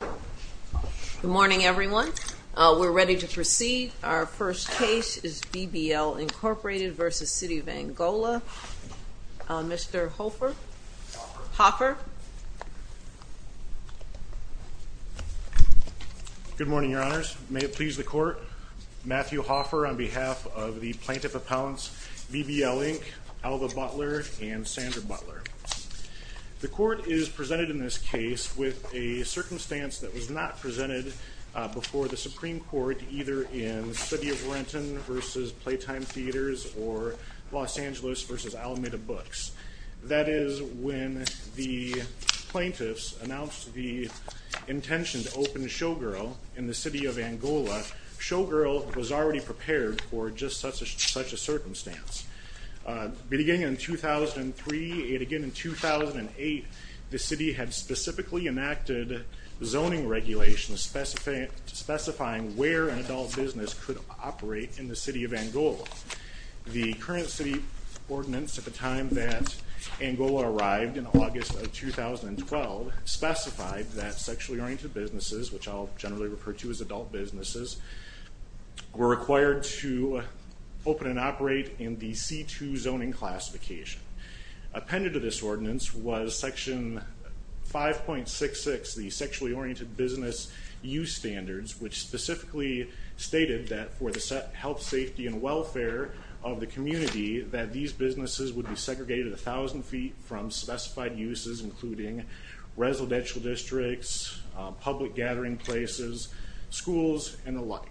Good morning everyone. We're ready to proceed. Our first case is BBL, Incorporated v. City of Angola. Mr. Hoffer. Good morning, Your Honors. May it please the court, Matthew Hoffer on behalf of the Plaintiff Appellants BBL Inc., Alva Butler and Sandra Butler. The court is presented in this case with a circumstance that was not presented before the Supreme Court either in City of Renton v. Playtime Theaters or Los Angeles v. Alameda Books. That is when the plaintiffs announced the intention to open Showgirl in the City of Angola, Showgirl was already prepared for just such a zoning regulation specifying where an adult business could operate in the City of Angola. The current city ordinance at the time that Angola arrived in August of 2012 specified that sexually oriented businesses, which I'll generally refer to as adult businesses, were required to open and operate in the C2 zoning classification. Appended to this ordinance was section 5.66, the sexually oriented business use standards, which specifically stated that for the health, safety, and welfare of the community that these businesses would be segregated a thousand feet from specified uses including residential districts, public gathering places, schools, and alike.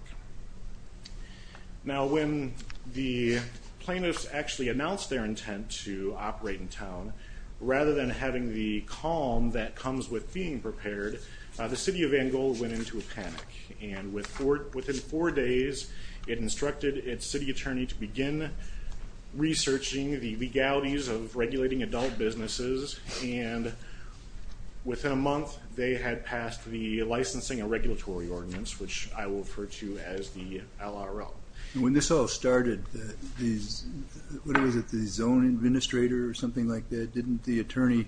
Now when the plaintiffs actually announced their intent to operate in town, rather than having the calm that comes with being prepared, the City of Angola went into a panic and within four days it instructed its city attorney to begin researching the legalities of regulating adult businesses and within a month they had passed the licensing and regulatory ordinance, which I will refer to as the zoning administrator or something like that. Didn't the attorney,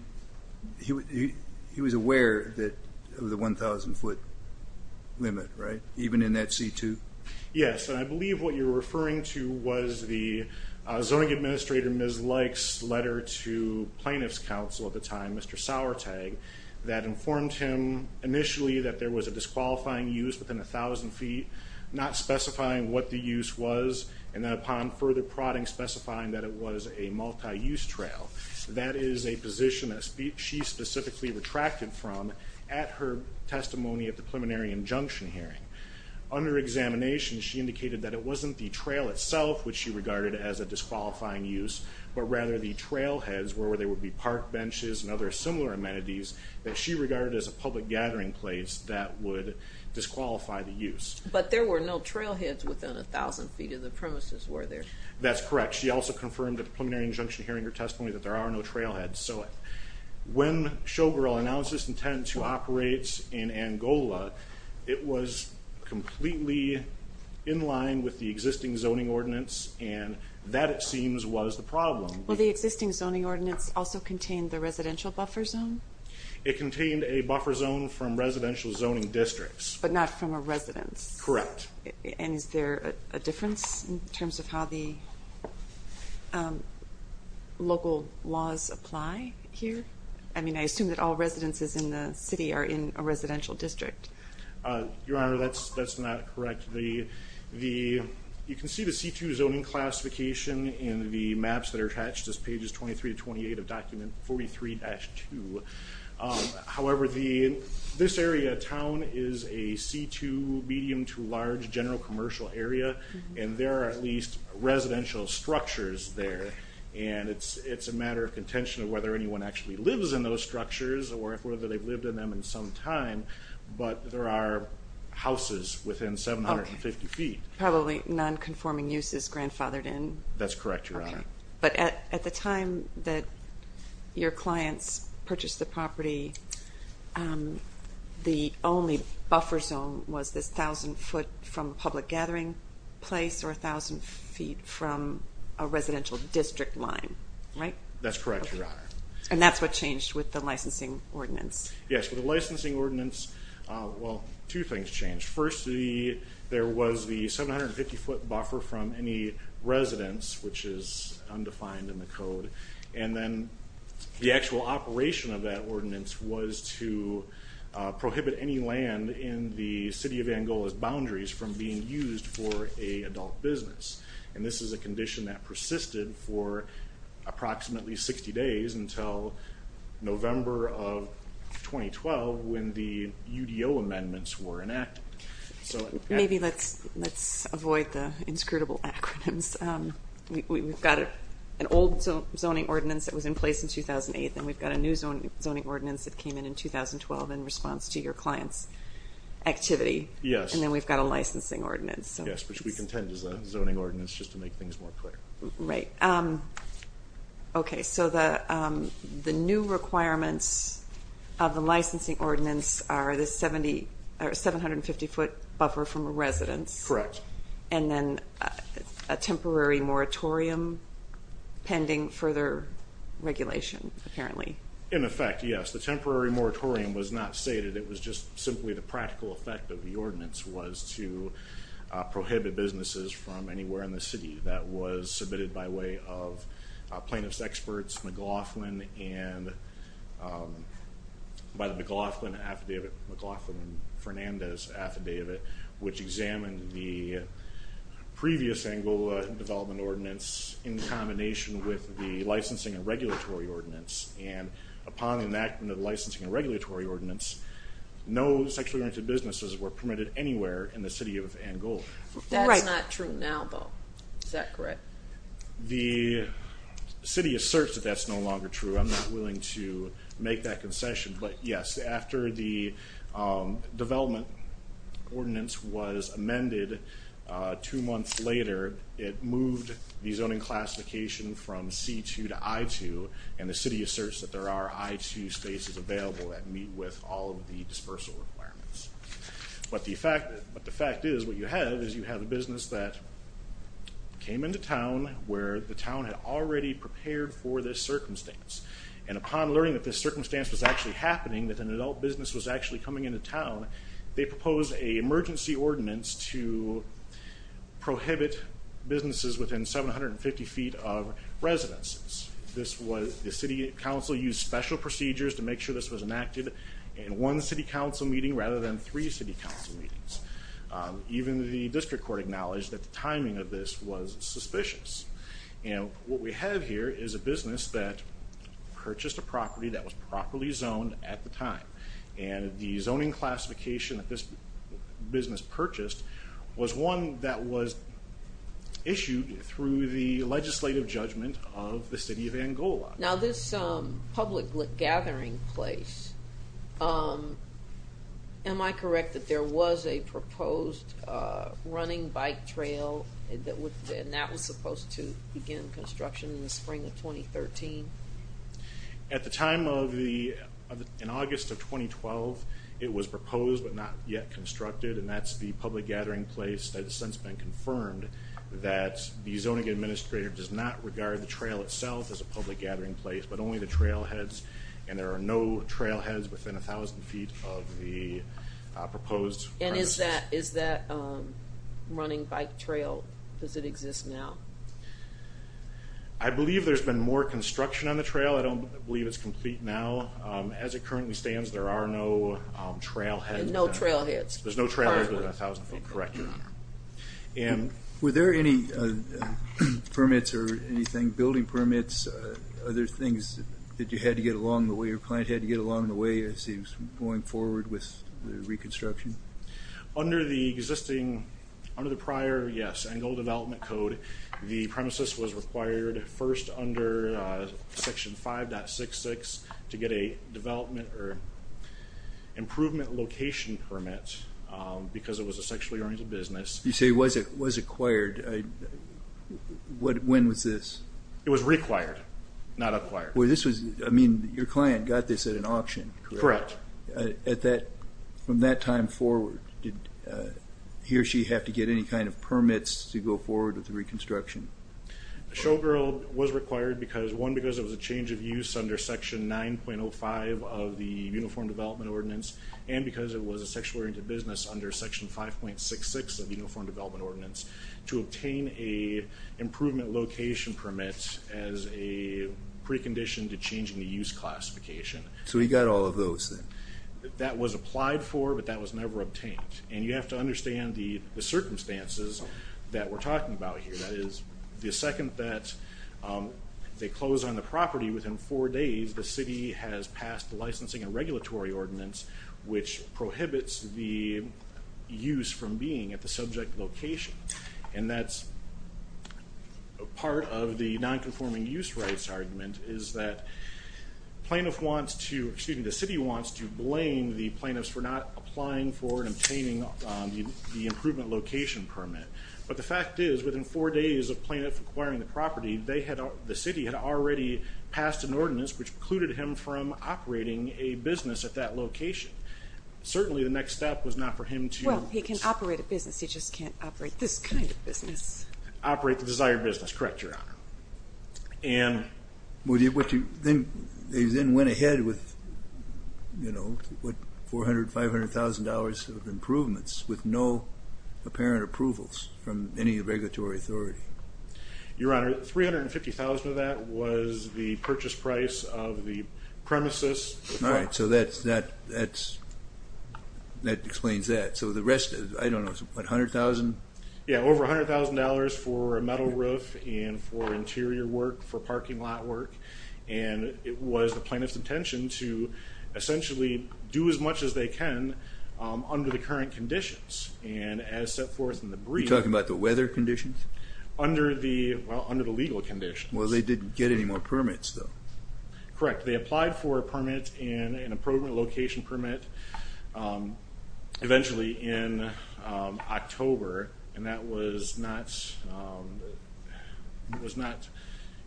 he was aware of the 1,000 foot limit, right? Even in that C2? Yes, I believe what you're referring to was the zoning administrator, Ms. Likes, letter to plaintiffs counsel at the time, Mr. Sourtag, that informed him initially that there was a disqualifying use within a thousand feet, not specifying what the specifying that it was a multi-use trail. That is a position that she specifically retracted from at her testimony at the preliminary injunction hearing. Under examination she indicated that it wasn't the trail itself which she regarded as a disqualifying use, but rather the trailheads where there would be park benches and other similar amenities that she regarded as a public gathering place that would disqualify the use. But there were no trailheads within a thousand feet of the premises were there? That's correct. She also confirmed at the preliminary injunction hearing her testimony that there are no trailheads. So when Showgirl announced this intent to operate in Angola, it was completely in line with the existing zoning ordinance and that it seems was the problem. Well the existing zoning ordinance also contained the residential buffer zone? It contained a buffer zone from residential zoning districts. But not from a residence? Correct. And is there a difference in terms of how the local laws apply here? I mean I assume that all residences in the city are in a residential district. Your Honor, that's that's not correct. You can see the C2 zoning classification in the maps that are attached as pages 23 to 28 of document 43-2. However, this area town is a C2 medium to large general commercial area and there are at least residential structures there and it's it's a matter of contention of whether anyone actually lives in those structures or if whether they've lived in them in some time, but there are houses within 750 feet. Probably non-conforming uses grandfathered in? That's correct, Your Honor. But at the time that your clients purchased the property, the only buffer zone was this thousand foot from public gathering place or a thousand feet from a residential district line, right? That's correct, Your Honor. And that's what changed with the licensing ordinance? Yes, with the licensing ordinance, well two things changed. First, there was the which is undefined in the code and then the actual operation of that ordinance was to prohibit any land in the city of Angola's boundaries from being used for a adult business. And this is a condition that persisted for approximately 60 days until November of 2012 when the UDO amendments were enacted. Maybe let's avoid the inscrutable acronyms. We've got an old zoning ordinance that was in place in 2008 and we've got a new zoning ordinance that came in in 2012 in response to your client's activity. Yes. And then we've got a licensing ordinance. Yes, which we contend is a zoning ordinance just to make things more clear. Right. Okay, so the new requirements of the licensing ordinance are the 70 or and then a temporary moratorium pending further regulation, apparently. In effect, yes. The temporary moratorium was not stated, it was just simply the practical effect of the ordinance was to prohibit businesses from anywhere in the city that was submitted by way of plaintiffs experts McLaughlin and by the McLaughlin affidavit, McLaughlin and Fernandez affidavit, which examined the previous Angola development ordinance in combination with the licensing and regulatory ordinance. And upon enactment of licensing and regulatory ordinance, no sexually oriented businesses were permitted anywhere in the city of Angola. That's not true now though, is that correct? The city asserts that that's no the development ordinance was amended two months later, it moved the zoning classification from C2 to I2 and the city asserts that there are I2 spaces available that meet with all of the dispersal requirements. But the fact is what you have is you have a business that came into town where the town had already prepared for this circumstance and upon learning that this was actually coming into town, they proposed a emergency ordinance to prohibit businesses within 750 feet of residences. The City Council used special procedures to make sure this was enacted in one City Council meeting rather than three City Council meetings. Even the district court acknowledged that the timing of this was suspicious. And what we have here is a business that and the zoning classification that this business purchased was one that was issued through the legislative judgment of the city of Angola. Now this public gathering place, am I correct that there was a proposed running bike trail that was supposed to begin construction in the spring of 2013? At the time of the, in August of 2012, it was proposed but not yet constructed and that's the public gathering place that has since been confirmed that the zoning administrator does not regard the trail itself as a public gathering place but only the trailheads and there are no trailheads within a thousand feet of the proposed. And is that running bike trail, does it exist now? I believe there's been more construction on the trail, I don't believe it's complete now. As it currently stands there are no trailheads. No trailheads. There's no trailhead within a thousand feet, correct your honor. And were there any permits or anything, building permits, other things that you had to get along the way, your client had to get along the way as he was going forward with the reconstruction? Under the existing, under the prior, yes, Angola Development Code, the Section 5.66 to get a development or improvement location permit because it was a sexually oriented business. You say it was acquired, when was this? It was required, not acquired. Well this was, I mean your client got this at an auction? Correct. At that, from that time forward, did he or she have to get any kind of permits to go forward with the reconstruction? The showgirl was required because, one, because it was a change of use under Section 9.05 of the Uniform Development Ordinance and because it was a sexually oriented business under Section 5.66 of Uniform Development Ordinance to obtain a improvement location permit as a precondition to changing the use classification. So he got all of those then? That was applied for but that was never obtained. And you have to understand the circumstances that we're in. They close on the property within four days, the city has passed the licensing and regulatory ordinance which prohibits the use from being at the subject location. And that's part of the non-conforming use rights argument is that plaintiff wants to, excuse me, the city wants to blame the plaintiffs for not applying for and obtaining the improvement location permit. But the fact is, within four days of plaintiff acquiring the property, they had, the city had already passed an ordinance which precluded him from operating a business at that location. Certainly the next step was not for him to... Well, he can operate a business, he just can't operate this kind of business. Operate the desired business, correct, Your Honor. And... They then went ahead with, you know, what, four hundred, five hundred thousand dollars of improvements with no apparent approvals from any regulatory authority. Your Honor, three hundred and fifty thousand of that was the purchase price of the premises. All right, so that's, that explains that. So the rest is, I don't know, what, a hundred thousand? Yeah, over a hundred thousand dollars for a metal roof and for interior work, for parking lot work. And it was the plaintiff's intention to essentially do as much as they can under the current conditions. And as set forth in the brief... You're talking about the weather conditions? Under the, well, under the legal conditions. Well, they didn't get any more permits though. Correct. They applied for a permit, an improvement location permit, eventually in October and that was not, it was not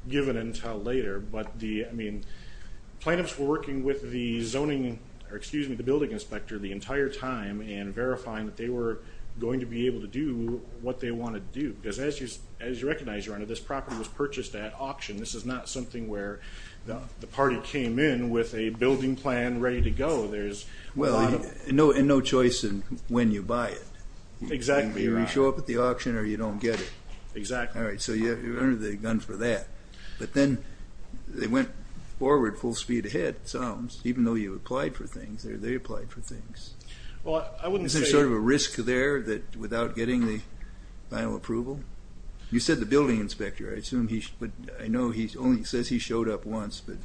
given until later. But the, I mean, plaintiffs were working with the zoning, or excuse me, the building inspector the entire time and verifying that they were going to be able to do what they wanted to do. Because as you, as you recognize, Your Honor, this property was purchased at auction. This is not something where the party came in with a building plan ready to go. There's... Well, and no choice in when you buy it. Exactly. You show up at the auction or you don't get it. Exactly. All right, so you're under the gun for that. But then they went forward full speed ahead, it sounds, even though you applied for things, or they applied for things. Well, I wouldn't say... Is there sort of a risk there that without getting the final approval? You said the building inspector, I assume he, but I know he only says he showed up once, but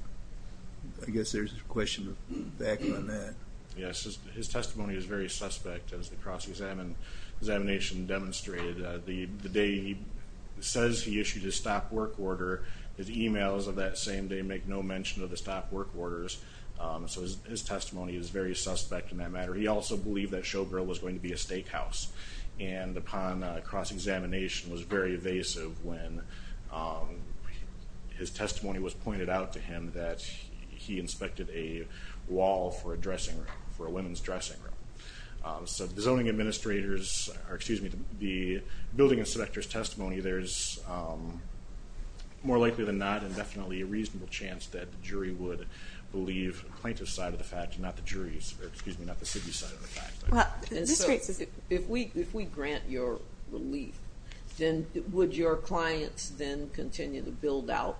I guess there's a question back on that. Yes, his testimony is very suspect as the cross-examination demonstrated. The day he says he issued his stop work order, his emails of that same day make no mention of the stop work orders, so his testimony is very suspect in that matter. He also believed that Showgirl was going to be a steakhouse, and upon cross-examination was very evasive when his testimony was pointed out to him that he inspected a wall for a dressing room, for a women's dressing room. So the zoning administrators, or excuse me, the building inspector's testimony, there's more likely than not and definitely a reasonable chance that the jury would believe the plaintiff's side of the fact, not the jury's, excuse me, not the city's side of the fact. If we grant your relief, then would your clients then continue to build out,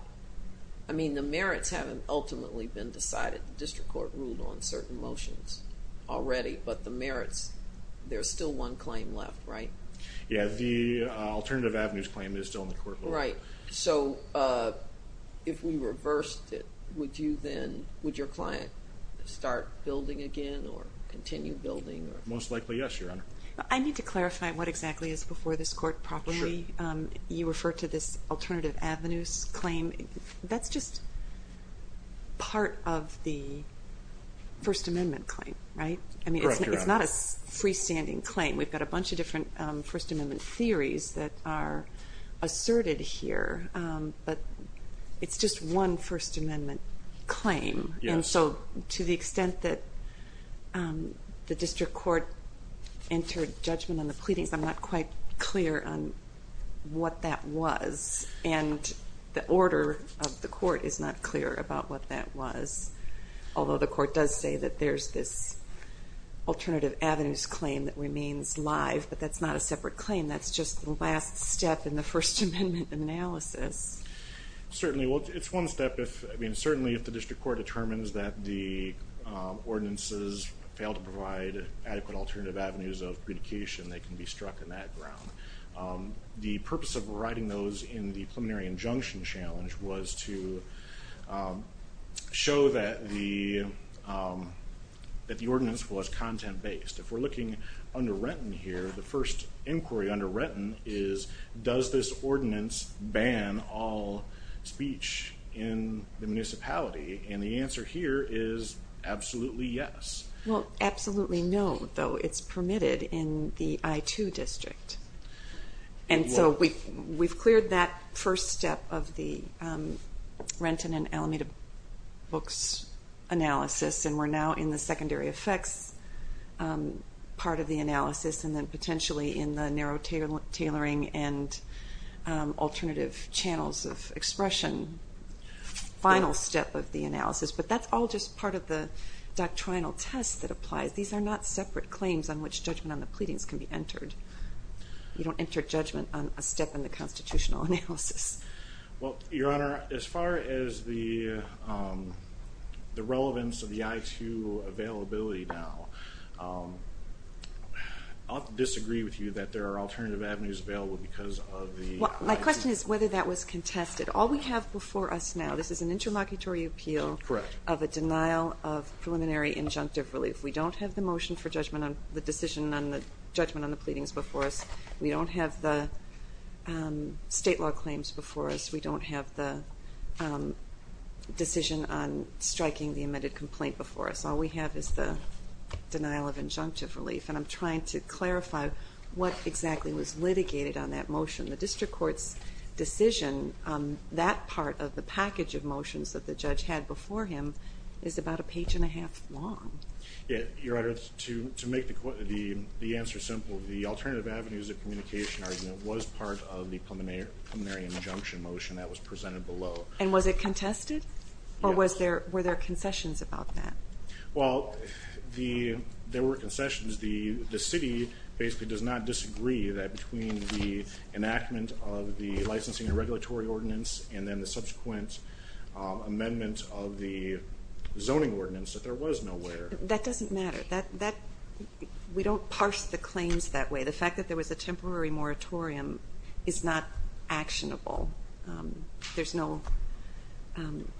I mean the merits haven't ultimately been decided. The district court ruled on certain motions already, but the merits, there's still one claim left, right? Yeah, the alternative avenues claim is still in the court. Right, so if we reversed it, would you then, would your client start building again or continue building? Most likely yes, Your Honor. I need to clarify what exactly is before this court properly. You refer to this alternative avenues claim, that's just part of the First Amendment claim, right? I mean it's not a freestanding claim. We've got a lot of theories that are asserted here, but it's just one First Amendment claim. Yes. And so to the extent that the district court entered judgment on the pleadings, I'm not quite clear on what that was, and the order of the court is not clear about what that was. Although the court does say that there's this alternative avenues claim that remains live, but that's not a separate claim, that's just the last step in the First Amendment analysis. Certainly, well it's one step if, I mean certainly if the district court determines that the ordinances fail to provide adequate alternative avenues of predication, they can be struck in that ground. The purpose of writing those in the preliminary injunction challenge was to show that the ordinance was content-based. If the first inquiry under Renton is, does this ordinance ban all speech in the municipality, and the answer here is absolutely yes. Well absolutely no, though it's permitted in the I-2 district, and so we've cleared that first step of the Renton and Alameda books analysis, and we're now in the secondary effects part of the analysis, and then potentially in the narrow tailoring and alternative channels of expression final step of the analysis, but that's all just part of the doctrinal test that applies. These are not separate claims on which judgment on the pleadings can be entered. You don't enter judgment on a step in the constitutional analysis. Well, Your Honor, as far as the relevance of the I'll disagree with you that there are alternative avenues available because of the... My question is whether that was contested. All we have before us now, this is an intermocketory appeal of a denial of preliminary injunctive relief. We don't have the motion for judgment on the decision on the judgment on the pleadings before us. We don't have the state law claims before us. We don't have the decision on striking the amended complaint before us. All we have is the preliminary injunctive relief, and I'm trying to clarify what exactly was litigated on that motion. The district court's decision on that part of the package of motions that the judge had before him is about a page and a half long. Your Honor, to make the answer simple, the alternative avenues of communication argument was part of the preliminary injunction motion that was presented below. And was it contested, or were there concessions about that? Well, there were concessions. The city basically does not disagree that between the enactment of the licensing and regulatory ordinance and then the subsequent amendment of the zoning ordinance, that there was no where. That doesn't matter. We don't parse the claims that way. The fact that there was a temporary moratorium is not actionable. There's no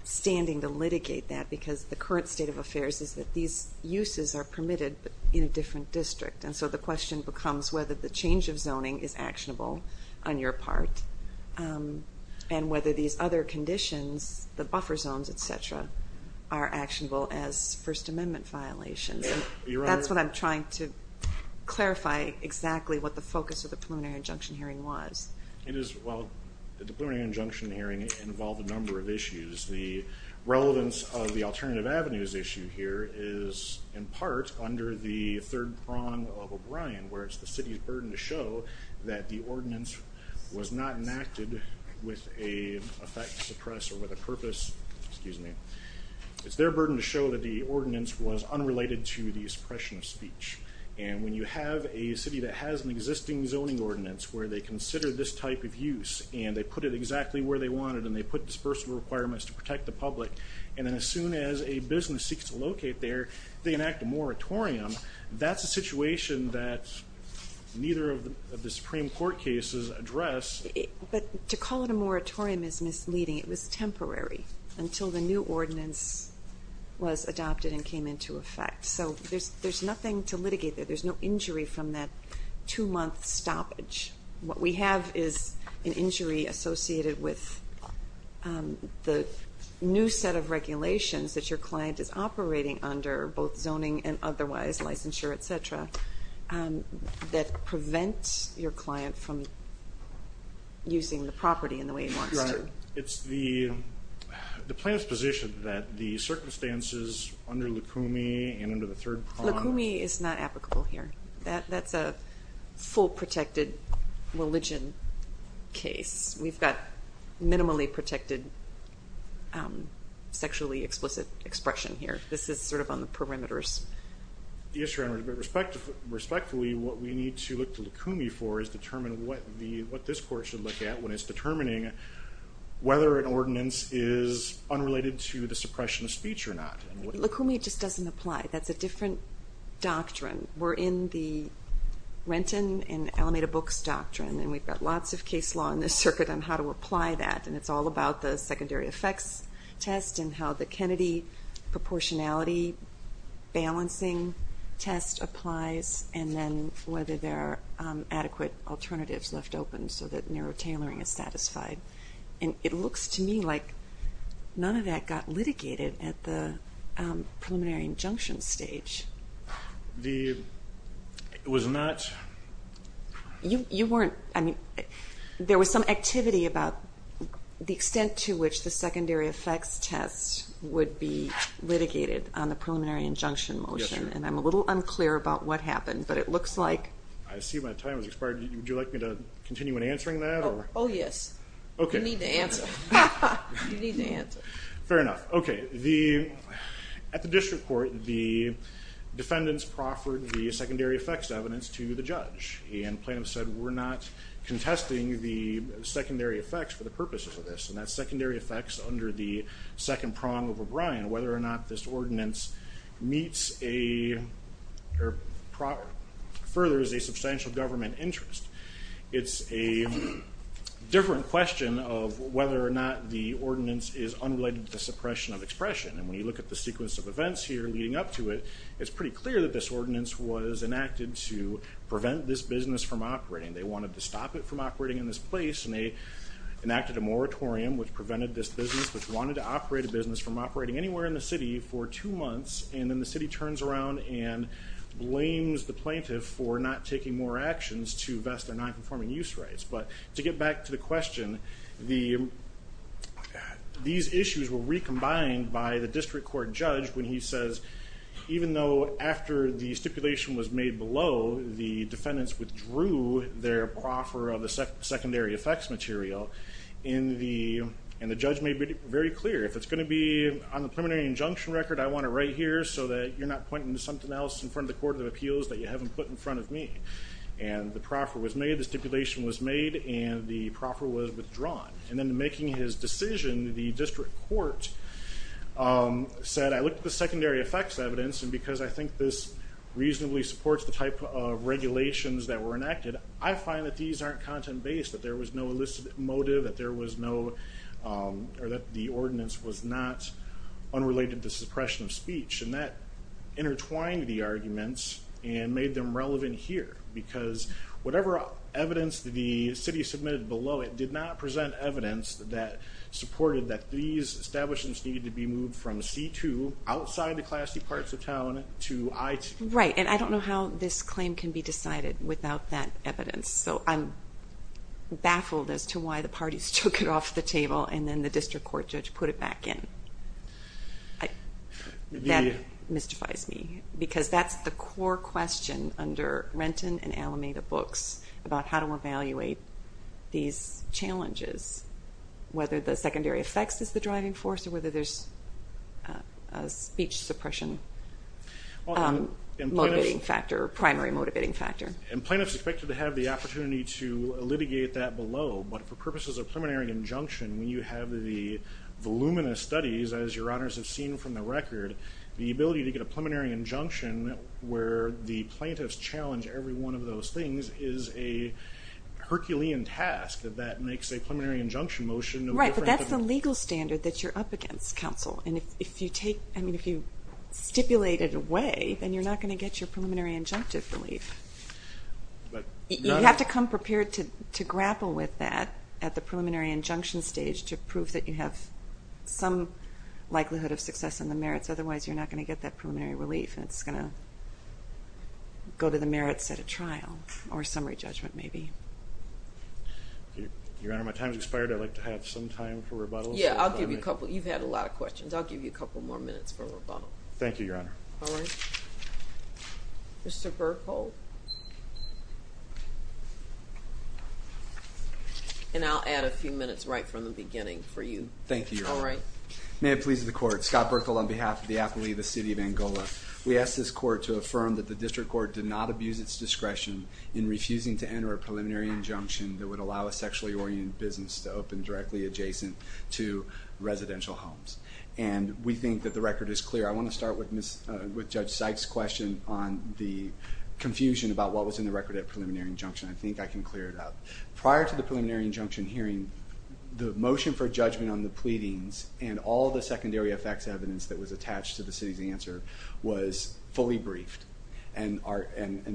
standing to is that these uses are permitted in a different district, and so the question becomes whether the change of zoning is actionable on your part, and whether these other conditions, the buffer zones, etc., are actionable as First Amendment violations. That's what I'm trying to clarify exactly what the focus of the preliminary injunction hearing was. It is, well, the preliminary injunction hearing involved a number of issues. The relevance of the alternative avenues issue here is, in part, under the third prong of O'Brien, where it's the city's burden to show that the ordinance was not enacted with a effect to suppress, or with a purpose, excuse me, it's their burden to show that the ordinance was unrelated to the suppression of speech. And when you have a city that has an existing zoning ordinance, where they consider this type of use, and they put it exactly where they wanted, and they put dispersal requirements to protect the public, and then as soon as a business seeks to locate there, they enact a moratorium. That's a situation that neither of the Supreme Court cases address. But to call it a moratorium is misleading. It was temporary until the new ordinance was adopted and came into effect. So there's nothing to litigate there. There's no injury from that two-month stoppage. What we have is an injury associated with the new set of regulations that your client is operating under, both zoning and otherwise, licensure, etc., that prevent your client from using the property in the way he wants to. Right. It's the plan's position that the circumstances under Lukumi and under the third prong... Lukumi is not a protected religion case. We've got minimally protected sexually explicit expression here. This is sort of on the perimeters. Yes, Your Honor, but respectfully, what we need to look to Lukumi for is determine what this Court should look at when it's determining whether an ordinance is unrelated to the suppression of speech or not. Lukumi just doesn't apply. That's a different doctrine. We're in the Renton and Alameda Books doctrine, and we've got lots of case law in this circuit on how to apply that, and it's all about the secondary effects test and how the Kennedy proportionality balancing test applies, and then whether there are adequate alternatives left open so that narrow tailoring is satisfied. And it looks to me like none of that got litigated at the preliminary injunction stage. It was not... You weren't... I mean, there was some activity about the extent to which the secondary effects test would be litigated on the preliminary injunction motion, and I'm a little unclear about what happened, but it looks like... I see my time has expired. Would you like me to continue in answering that? Oh yes. Okay. You need to answer. You need to answer. Fair enough. Okay. At the District Court, the defendants proffered the secondary effects evidence to the judge, and plaintiffs said we're not contesting the secondary effects for the purposes of this, and that's secondary effects under the second prong of O'Brien, whether or not this ordinance meets a... or furthers a substantial government interest. It's a different question of whether or not the ordinance is unrelated to suppression of expression, and when you look at the sequence of events here leading up to it, it's pretty clear that this ordinance was enacted to prevent this business from operating. They wanted to stop it from operating in this place, and they enacted a moratorium which prevented this business which wanted to operate a business from operating anywhere in the city for two months, and then the city turns around and blames the plaintiff for not taking more of their non-conforming use rights. But to get back to the question, these issues were recombined by the District Court judge when he says even though after the stipulation was made below, the defendants withdrew their proffer of the secondary effects material, and the judge made it very clear, if it's going to be on the preliminary injunction record, I want it right here so that you're not pointing to something else in front of the Court of Appeals that you haven't put in front of me. And the proffer was made, the stipulation was made, and the proffer was withdrawn. And then making his decision, the District Court said I looked at the secondary effects evidence, and because I think this reasonably supports the type of regulations that were enacted, I find that these aren't content-based, that there was no elicit motive, that there was no, or that the ordinance was not unrelated to suppression of speech, and that intertwined the arguments and made them relevant here. Because whatever evidence the city submitted below it did not present evidence that supported that these establishments needed to be moved from C2, outside the classy parts of town, to I2. Right, and I don't know how this claim can be decided without that evidence. So I'm baffled as to why the parties took it off the table and then the District Court judge put it back in. That mystifies me, because that's the core question under Renton and Alameda books about how to evaluate these challenges, whether the secondary effects is the driving force or whether there's a speech suppression motivating factor, primary motivating factor. And plaintiffs expected to have the opportunity to litigate that below, but for purposes of preliminary injunction, when you have the voluminous studies, as your honors have seen from the record, the ability to get a preliminary injunction where the plaintiffs challenge every one of those things is a Herculean task that makes a preliminary injunction motion. Right, but that's the legal standard that you're up against, counsel, and if you take, I mean if you stipulate it away, then you're not going to get your preliminary to grapple with that at the preliminary injunction stage to prove that you have some likelihood of success in the merits, otherwise you're not going to get that preliminary relief and it's going to go to the merits at a trial or summary judgment maybe. Your Honor, my time has expired. I'd like to have some time for rebuttals. Yeah, I'll give you a couple. You've had a lot of questions. I'll give you a couple more minutes for rebuttal. Thank you, Your Honor. All right. Mr. Burkle. And I'll add a few minutes right from the beginning for you. Thank you, Your Honor. All right. May it please the court, Scott Burkle on behalf of the athlete of the City of Angola. We ask this court to affirm that the district court did not abuse its discretion in refusing to enter a preliminary injunction that would allow a sexually oriented business to open directly adjacent to residential homes, and we think that the record is clear. I want to start with Judge Sykes' question on the confusion about what was in the record at preliminary injunction. I think I can clear it up. Prior to the preliminary injunction hearing, the motion for judgment on the pleadings and all the secondary effects evidence that was attached to the city's answer was fully briefed and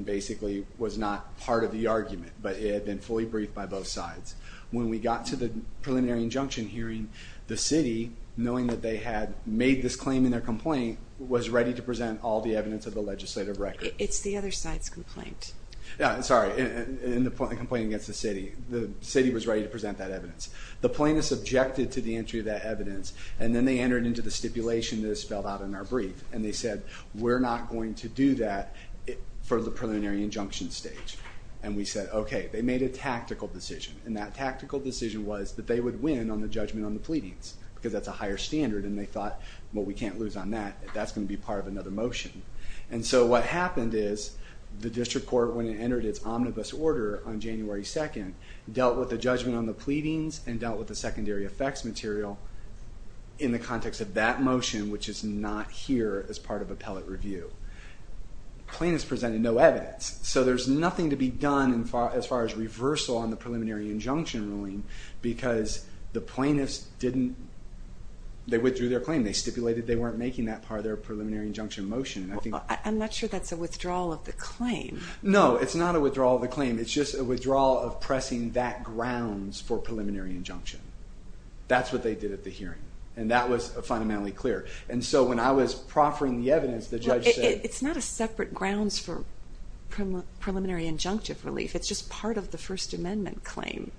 basically was not part of the argument, but it had been fully briefed by both sides. When we got to the preliminary injunction hearing, the city, knowing that they had made this claim in their complaint, was ready to present all the evidence of the legislative record. It's the other side's complaint. Yeah, I'm sorry, in the complaint against the city. The city was ready to present that evidence. The plaintiffs objected to the entry of that evidence, and then they entered into the stipulation that is spelled out in our brief, and they said we're not going to do that for the preliminary injunction stage, and we said okay. They made a tactical decision, and that tactical decision was that they would win on the judgment on the pleadings, because that's a higher standard, and they thought, well we can't lose on that. That's going to be part of another motion, and so what happened is the district court, when it entered its omnibus order on January 2nd, dealt with the judgment on the pleadings and dealt with the secondary effects material in the context of that motion, which is not here as part of appellate review. Plaintiffs presented no evidence, so there's nothing to be done as far as reversal on the preliminary injunction ruling, because the plaintiffs didn't, they withdrew their claim. They weren't making that part of their preliminary injunction motion. I'm not sure that's a withdrawal of the claim. No, it's not a withdrawal of the claim. It's just a withdrawal of pressing that grounds for preliminary injunction. That's what they did at the hearing, and that was fundamentally clear, and so when I was proffering the evidence, the judge said... It's not a separate grounds for preliminary injunctive relief. It's just part of the First Amendment claim,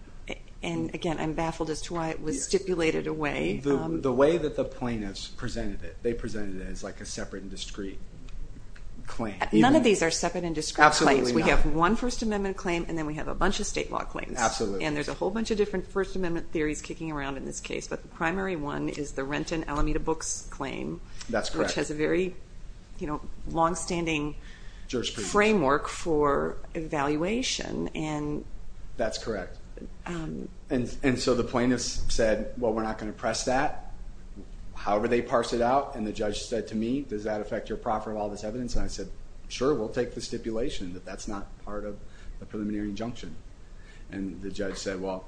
and again, I'm baffled as to why it was stipulated away. The way that the presented it, they presented it as like a separate and discrete claim. None of these are separate and discrete claims. We have one First Amendment claim, and then we have a bunch of state law claims, and there's a whole bunch of different First Amendment theories kicking around in this case, but the primary one is the Renton Alameda Books claim, which has a very, you know, long-standing framework for evaluation. That's correct, and so the plaintiffs said, well, we're not going to press that. However, they parsed it out, and the judge said to me, does that affect your proffer of all this evidence? And I said, sure, we'll take the stipulation that that's not part of the preliminary injunction, and the judge said, well,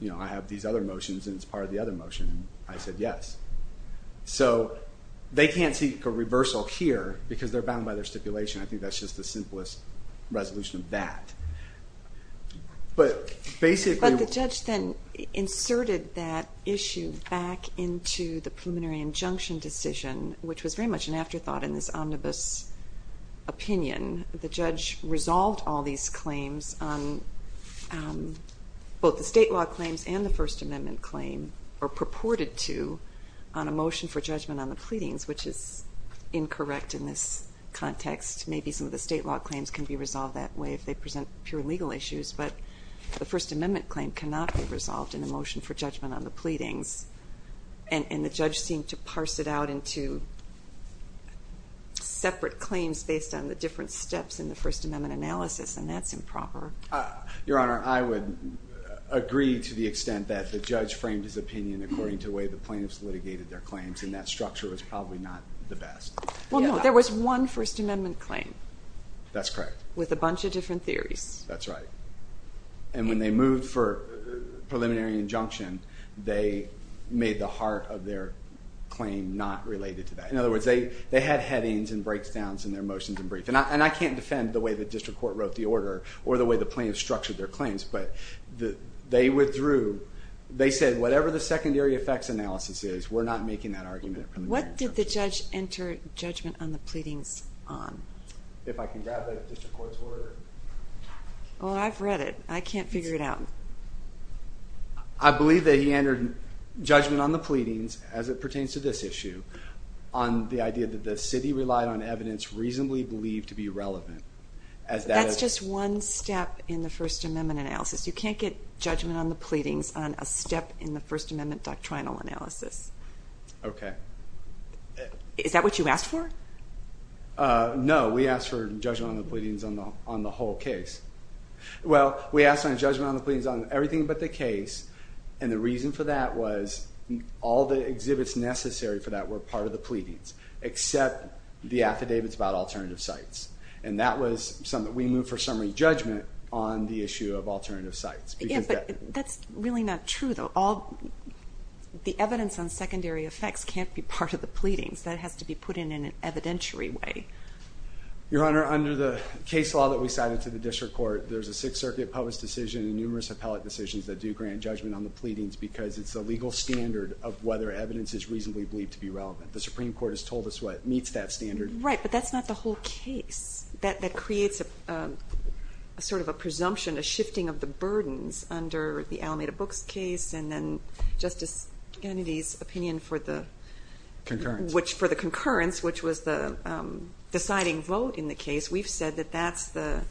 you know, I have these other motions, and it's part of the other motion, and I said yes. So they can't seek a reversal here because they're bound by their stipulation. I think that's just the simplest resolution of that, but basically... But the judge then inserted that issue back into the preliminary injunction decision, which was very much an afterthought in this omnibus opinion. The judge resolved all these claims on both the state law claims and the First Amendment claim, or purported to, on a motion for judgment on the pleadings, which is incorrect in this context. Maybe some of the state law claims can be resolved that way if they present pure legal issues, but the First Amendment claim cannot be resolved in a motion for judgment on the pleadings, and the judge seemed to parse it out into separate claims based on the different steps in the First Amendment analysis, and that's improper. Your Honor, I would agree to the extent that the judge framed his opinion according to the way the plaintiffs litigated their claims, and that structure was probably not the best. Well, no, there was one First Amendment claim. That's correct. With a bunch of different theories. That's right, and when they moved for preliminary injunction, they made the heart of their claim not related to that. In other words, they had headings and breakdowns in their motions and briefs, and I can't defend the way the district court wrote the order or the way the plaintiffs structured their claims, but they withdrew. They said, whatever the judge entered judgment on the pleadings on. If I can grab the district court's order. Well, I've read it. I can't figure it out. I believe that he entered judgment on the pleadings, as it pertains to this issue, on the idea that the city relied on evidence reasonably believed to be relevant. That's just one step in the First Amendment analysis. You can't get judgment on the pleadings on a step in the First Amendment doctrinal analysis. Okay. Is that what you asked for? No, we asked for judgment on the pleadings on the whole case. Well, we asked on judgment on the pleadings on everything but the case, and the reason for that was all the exhibits necessary for that were part of the pleadings, except the affidavits about alternative sites, and that was something that we moved for summary judgment on the issue of alternative sites. Yeah, but that's really not true, though. All the evidence on secondary effects can't be part of the pleadings. That has to be put in an evidentiary way. Your Honor, under the case law that we cited to the district court, there's a Sixth Circuit published decision and numerous appellate decisions that do grant judgment on the pleadings because it's a legal standard of whether evidence is reasonably believed to be relevant. The Supreme Court has told us what meets that standard. Right, but that's not the whole case. That creates a sort of a case and then Justice Kennedy's opinion for the concurrence, which was the deciding vote in the case, we've said that that's the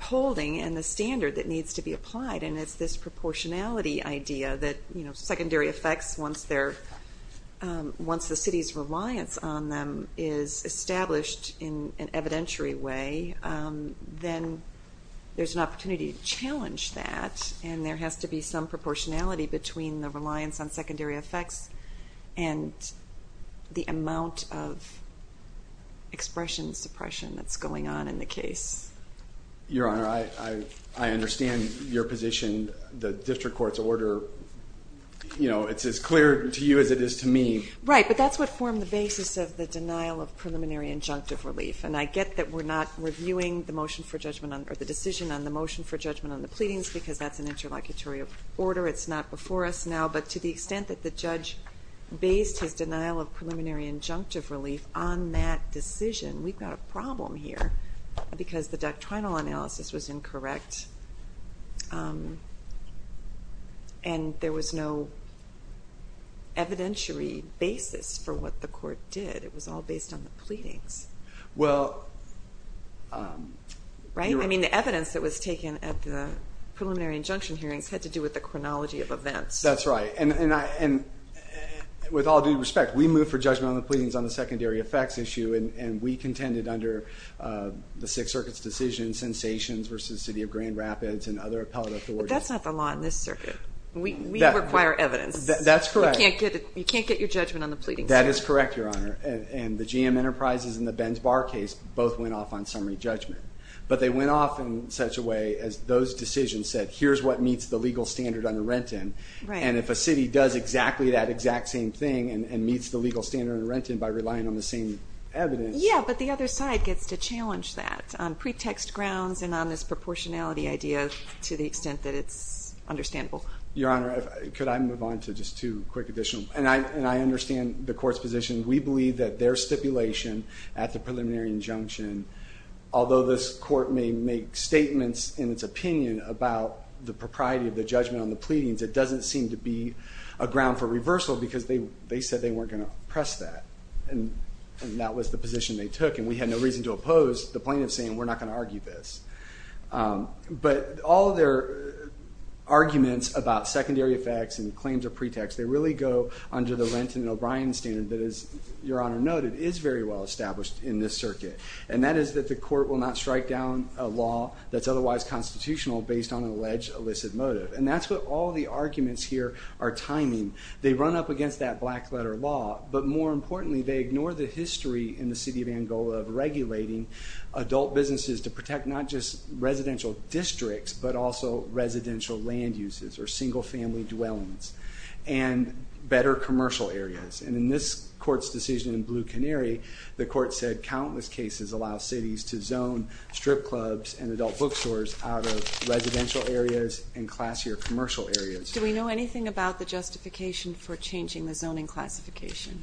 holding and the standard that needs to be applied, and it's this proportionality idea that, you know, secondary effects, once the city's reliance on them is established in an evidentiary way, then there's an opportunity to challenge that and there has to be some proportionality between the reliance on secondary effects and the amount of expression suppression that's going on in the case. Your Honor, I understand your position. The district court's order, you know, it's as clear to you as it is to me. Right, but that's what formed the basis of the denial of preliminary injunctive relief, and I get that we're not reviewing the motion for judgment or the decision on the motion for interlocutorial order. It's not before us now, but to the extent that the judge based his denial of preliminary injunctive relief on that decision, we've got a problem here because the doctrinal analysis was incorrect and there was no evidentiary basis for what the court did. It was all based on the pleadings. Well, right, I mean the evidence that was taken at the preliminary injunction hearings had to do with the chronology of events. That's right, and with all due respect, we moved for judgment on the pleadings on the secondary effects issue and we contended under the Sixth Circuit's decision, Sensations versus City of Grand Rapids and other appellate authorities. That's not the law in this circuit. We require evidence. That's correct. You can't get your judgment on the pleadings. That is correct, Your Honor, and the GM Enterprises and the Bar case both went off on summary judgment, but they went off in such a way as those decisions said, here's what meets the legal standard under Renton, and if a city does exactly that exact same thing and meets the legal standard of Renton by relying on the same evidence. Yeah, but the other side gets to challenge that on pretext grounds and on this proportionality idea to the extent that it's understandable. Your Honor, could I move on to just two quick additional, and I understand the court's position. We believe that their preliminary injunction, although this court may make statements in its opinion about the propriety of the judgment on the pleadings, it doesn't seem to be a ground for reversal because they said they weren't going to press that, and that was the position they took, and we had no reason to oppose the plaintiff saying we're not going to argue this, but all their arguments about secondary effects and claims of pretext, they really go under the Renton and O'Brien standard that, as Your Honor noted, is very well established in this circuit, and that is that the court will not strike down a law that's otherwise constitutional based on an alleged illicit motive, and that's what all the arguments here are timing. They run up against that black letter law, but more importantly, they ignore the history in the city of Angola of regulating adult businesses to protect not just residential districts, but also residential land uses or single-family dwellings and better commercial areas, and in this court's decision in Blue Canary, the court said countless cases allow cities to zone strip clubs and adult bookstores out of residential areas and classier commercial areas. Do we know anything about the justification for changing the zoning classification?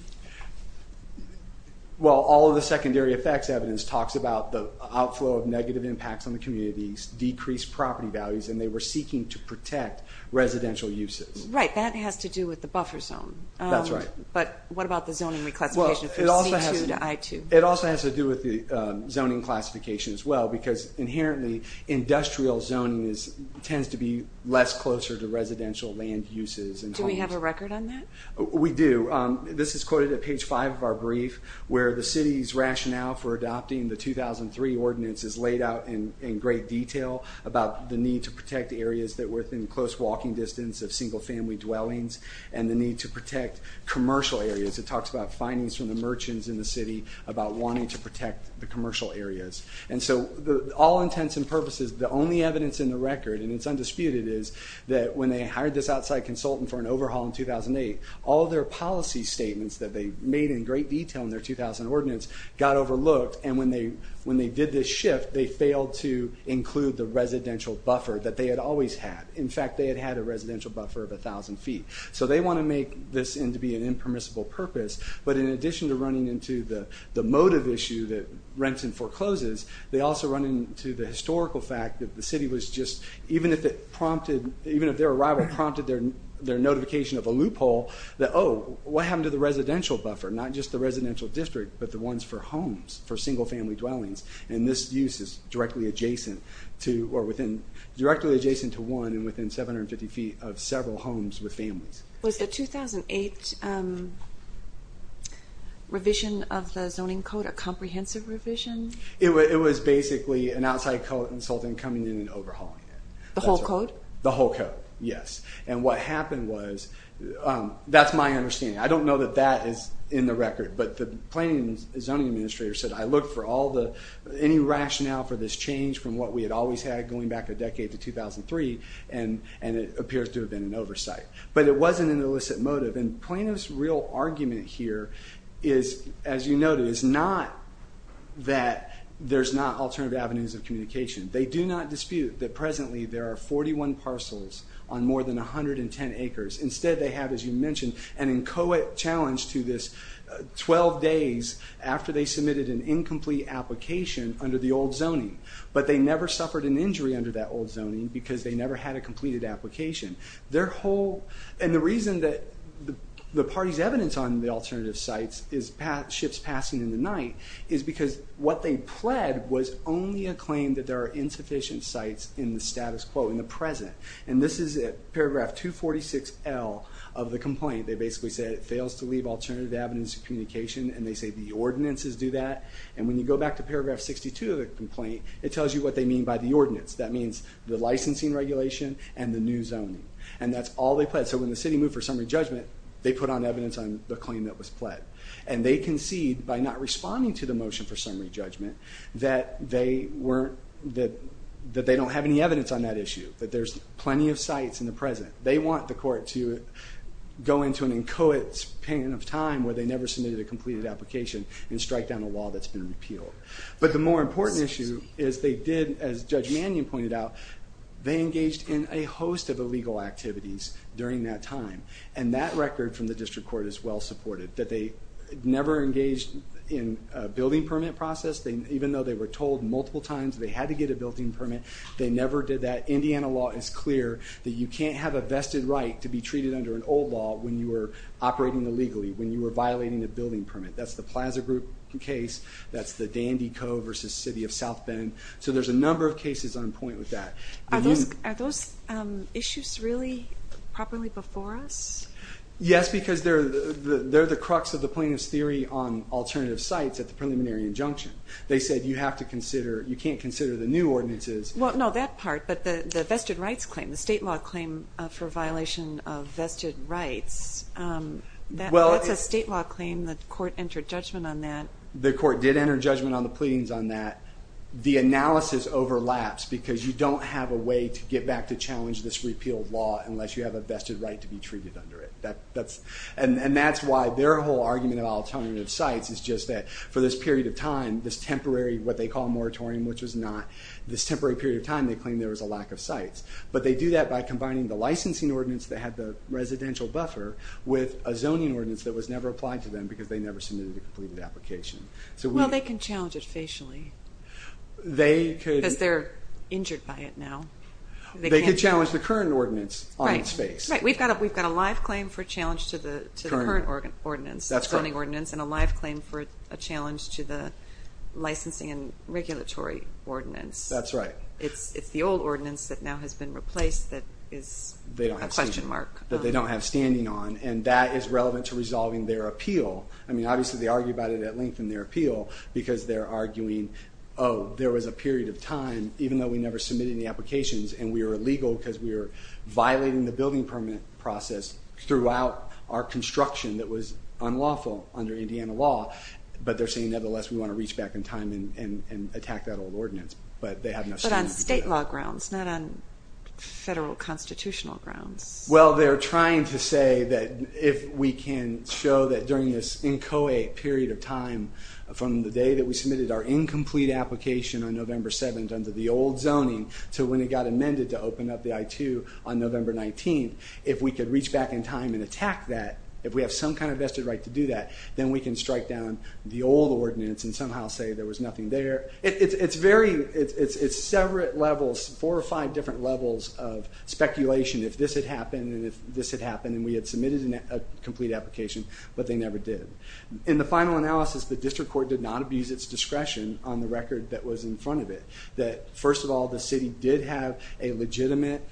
Well, all of the secondary effects evidence talks about the outflow of negative impacts on the communities, decreased property values, and they were seeking to protect residential uses. Right, that has to do with the buffer zone. That's right. But what about the zoning reclassification from C2 to I2? It also has to do with the zoning classification as well, because inherently industrial zoning tends to be less closer to residential land uses. Do we have a record on that? We do. This is quoted at page 5 of our brief, where the city's rationale for adopting the 2003 ordinance is laid out in great detail about the need to protect areas that single-family dwellings and the need to protect commercial areas. It talks about findings from the merchants in the city about wanting to protect the commercial areas. And so, all intents and purposes, the only evidence in the record, and it's undisputed, is that when they hired this outside consultant for an overhaul in 2008, all their policy statements that they made in great detail in their 2000 ordinance got overlooked, and when they did this shift, they failed to include the residential buffer that they had always had. In fact, they had had a buffer of a thousand feet. So they want to make this end to be an impermissible purpose, but in addition to running into the motive issue that rents and forecloses, they also run into the historical fact that the city was just, even if it prompted, even if their arrival prompted their notification of a loophole, that, oh, what happened to the residential buffer? Not just the residential district, but the ones for homes, for single-family dwellings, and this use is directly adjacent to, or within, directly adjacent to one and within 750 feet of several homes with families. Was the 2008 revision of the zoning code a comprehensive revision? It was basically an outside consultant coming in and overhauling it. The whole code? The whole code, yes. And what happened was, that's my understanding. I don't know that that is in the record, but the planning and zoning administrator said, I looked for all the, any rationale for this change from what we had always had going back a decade to 2003, and it appears to have been an oversight. But it wasn't an illicit motive, and Plano's real argument here is, as you noted, is not that there's not alternative avenues of communication. They do not dispute that presently there are 41 parcels on more than 110 acres. Instead they have, as you mentioned, an inchoate challenge to this 12 days after they submitted an incomplete application under the old zoning. But they never suffered an injury under that old zoning, because they never had a completed application. Their whole, and the reason that the party's evidence on the alternative sites is ships passing in the night, is because what they pled was only a claim that there are insufficient sites in the status quo, in the present. And this is at paragraph 246L of the complaint. They basically said it fails to leave alternative avenues of communication, and they say the ordinances do that. And when you go back to paragraph 62 of the complaint, it tells you what they mean by the ordinance. That means the licensing regulation and the new zoning. And that's all they pled. So when the city moved for summary judgment, they put on evidence on the claim that was pled. And they concede by not responding to the motion for summary judgment, that they weren't, that that they don't have any evidence on that issue. That there's plenty of sites in the present. They want the court to go into an inchoate span of time where they never submitted a completed application and strike down a law that's been appealed. But the more important issue is they did, as Judge Mannion pointed out, they engaged in a host of illegal activities during that time. And that record from the district court is well supported, that they never engaged in a building permit process. Even though they were told multiple times they had to get a building permit, they never did that. Indiana law is clear that you can't have a vested right to be treated under an old law when you were operating illegally, when you were violating a building permit. That's the Plaza Group case, that's the Dandy Co. versus City of South Bend. So there's a number of cases on point with that. Are those issues really properly before us? Yes, because they're the crux of the plaintiff's theory on alternative sites at the preliminary injunction. They said you have to consider, you can't consider the new ordinances. Well no, that part, but the vested rights claim, the state law claim for violation of vested rights, that's a state law claim, the court did enter judgment on the pleadings on that. The analysis overlaps because you don't have a way to get back to challenge this repealed law unless you have a vested right to be treated under it. And that's why their whole argument of alternative sites is just that for this period of time, this temporary, what they call moratorium, which was not, this temporary period of time they claimed there was a lack of sites. But they do that by combining the licensing ordinance that had the residential buffer with a zoning ordinance that was never applied to them because they never submitted a application. Well they can challenge it facially. They could. Because they're injured by it now. They could challenge the current ordinance on its face. Right, we've got a live claim for challenge to the current ordinance, the zoning ordinance, and a live claim for a challenge to the licensing and regulatory ordinance. That's right. It's the old ordinance that now has been replaced that is a question mark. That they don't have standing on and that is relevant to lengthen their appeal because they're arguing, oh there was a period of time, even though we never submitted the applications and we were illegal because we were violating the building permit process throughout our construction that was unlawful under Indiana law, but they're saying nevertheless we want to reach back in time and attack that old ordinance. But they have no standing on it. But on state law grounds, not on federal constitutional grounds. Well they're trying to say that if we can show that during this inchoate period of time from the day that we submitted our incomplete application on November 7th under the old zoning to when it got amended to open up the I-2 on November 19th, if we could reach back in time and attack that, if we have some kind of vested right to do that, then we can strike down the old ordinance and somehow say there was nothing there. It's very, it's several levels, four or five different levels of this had happened and we had submitted a complete application, but they never did. In the final analysis, the district court did not abuse its discretion on the record that was in front of it. That first of all, the city did have a legitimate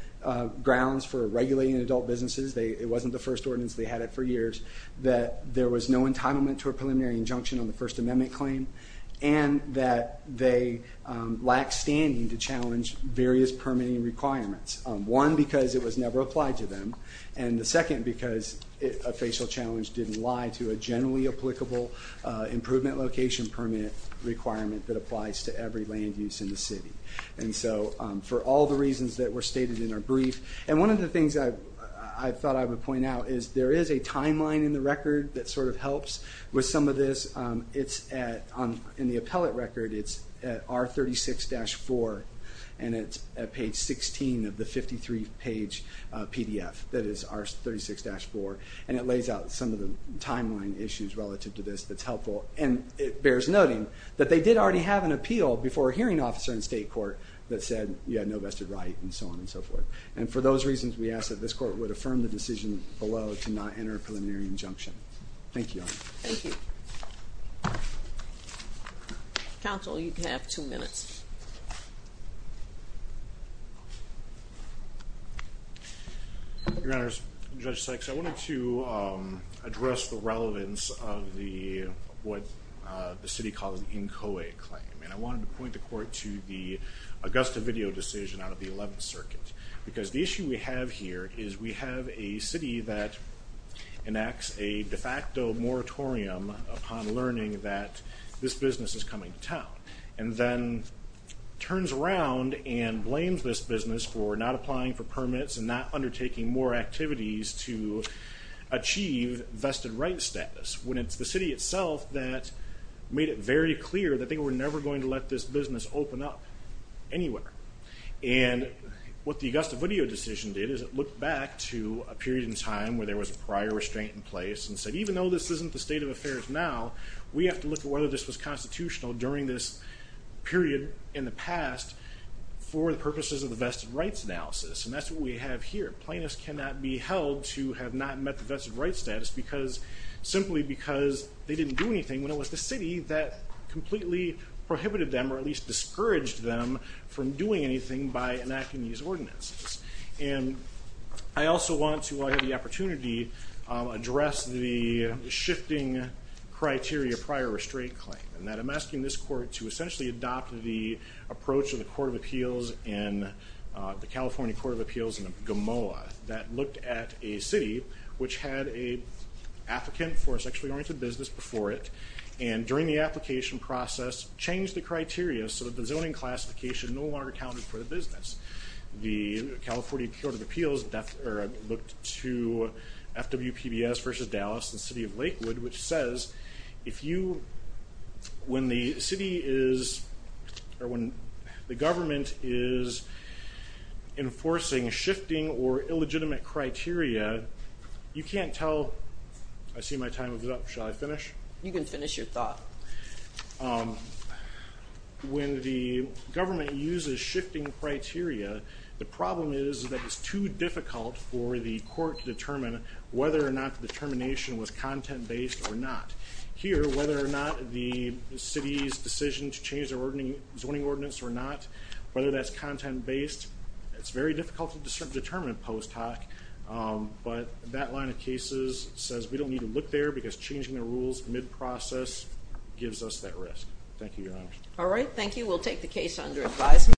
grounds for regulating adult businesses. It wasn't the first ordinance, they had it for years. That there was no entitlement to a preliminary injunction on the First Amendment claim and that they lack standing to challenge various permitting requirements. One, because it was never applied to them, and the second because a facial challenge didn't lie to a generally applicable improvement location permit requirement that applies to every land use in the city. And so for all the reasons that were stated in our brief, and one of the things I thought I would point out is there is a timeline in the record that sort of helps with some of this. It's at, in the appellate PDF that is R36-4 and it lays out some of the timeline issues relative to this that's helpful and it bears noting that they did already have an appeal before a hearing officer in state court that said you had no vested right and so on and so forth. And for those reasons we ask that this court would affirm the decision below to not enter a preliminary injunction. Thank you. Thank you. Counsel, you have two minutes. Your Honors, Judge Sykes, I wanted to address the relevance of the what the city calls the NCOA claim and I wanted to point the court to the Augusta video decision out of the 11th Circuit because the issue we have here is we have a city that enacts a de facto moratorium upon learning that this business is coming to town and then turns around and blames this business for not applying for permits and not undertaking more activities to achieve vested rights status when it's the city itself that made it very clear that they were never going to let this business open up anywhere. And what the Augusta video decision did is it looked back to a period in time where there was a prior restraint in place and said even though this isn't the state of affairs now we have to look at whether this was constitutional during this period in the past for the purposes of the vested rights analysis and that's what we have here. Plaintiffs cannot be held to have not met the vested rights status because simply because they didn't do anything when it was the city that completely prohibited them or at least discouraged them from doing anything by enacting these ordinances. And I also want to, while I have the opportunity, address the shifting criteria prior restraint claim and that I'm asking this court to essentially adopt the approach of the Court of Appeals in the California Court of Appeals in Gamoa that looked at a city which had a applicant for a sexually oriented business before it and during the application process changed the criteria so that the zoning classification no longer counted for the business. The California Court of Appeals looked to FWPBS versus Dallas and City of Lakewood which says if you, when the city is or when the government is enforcing shifting or illegitimate criteria you can't tell, I see my time is up, shall I finish? You can finish your thought. When the government uses shifting criteria, the problem is that it's too difficult for the court to determine whether or not the determination was content-based or not. Here, whether or not the city's decision to change their zoning ordinance or not, whether that's content-based, it's very difficult to determine post hoc, but that line of cases says we don't need to look there because changing the rules mid-process gives us that risk. Thank you, Your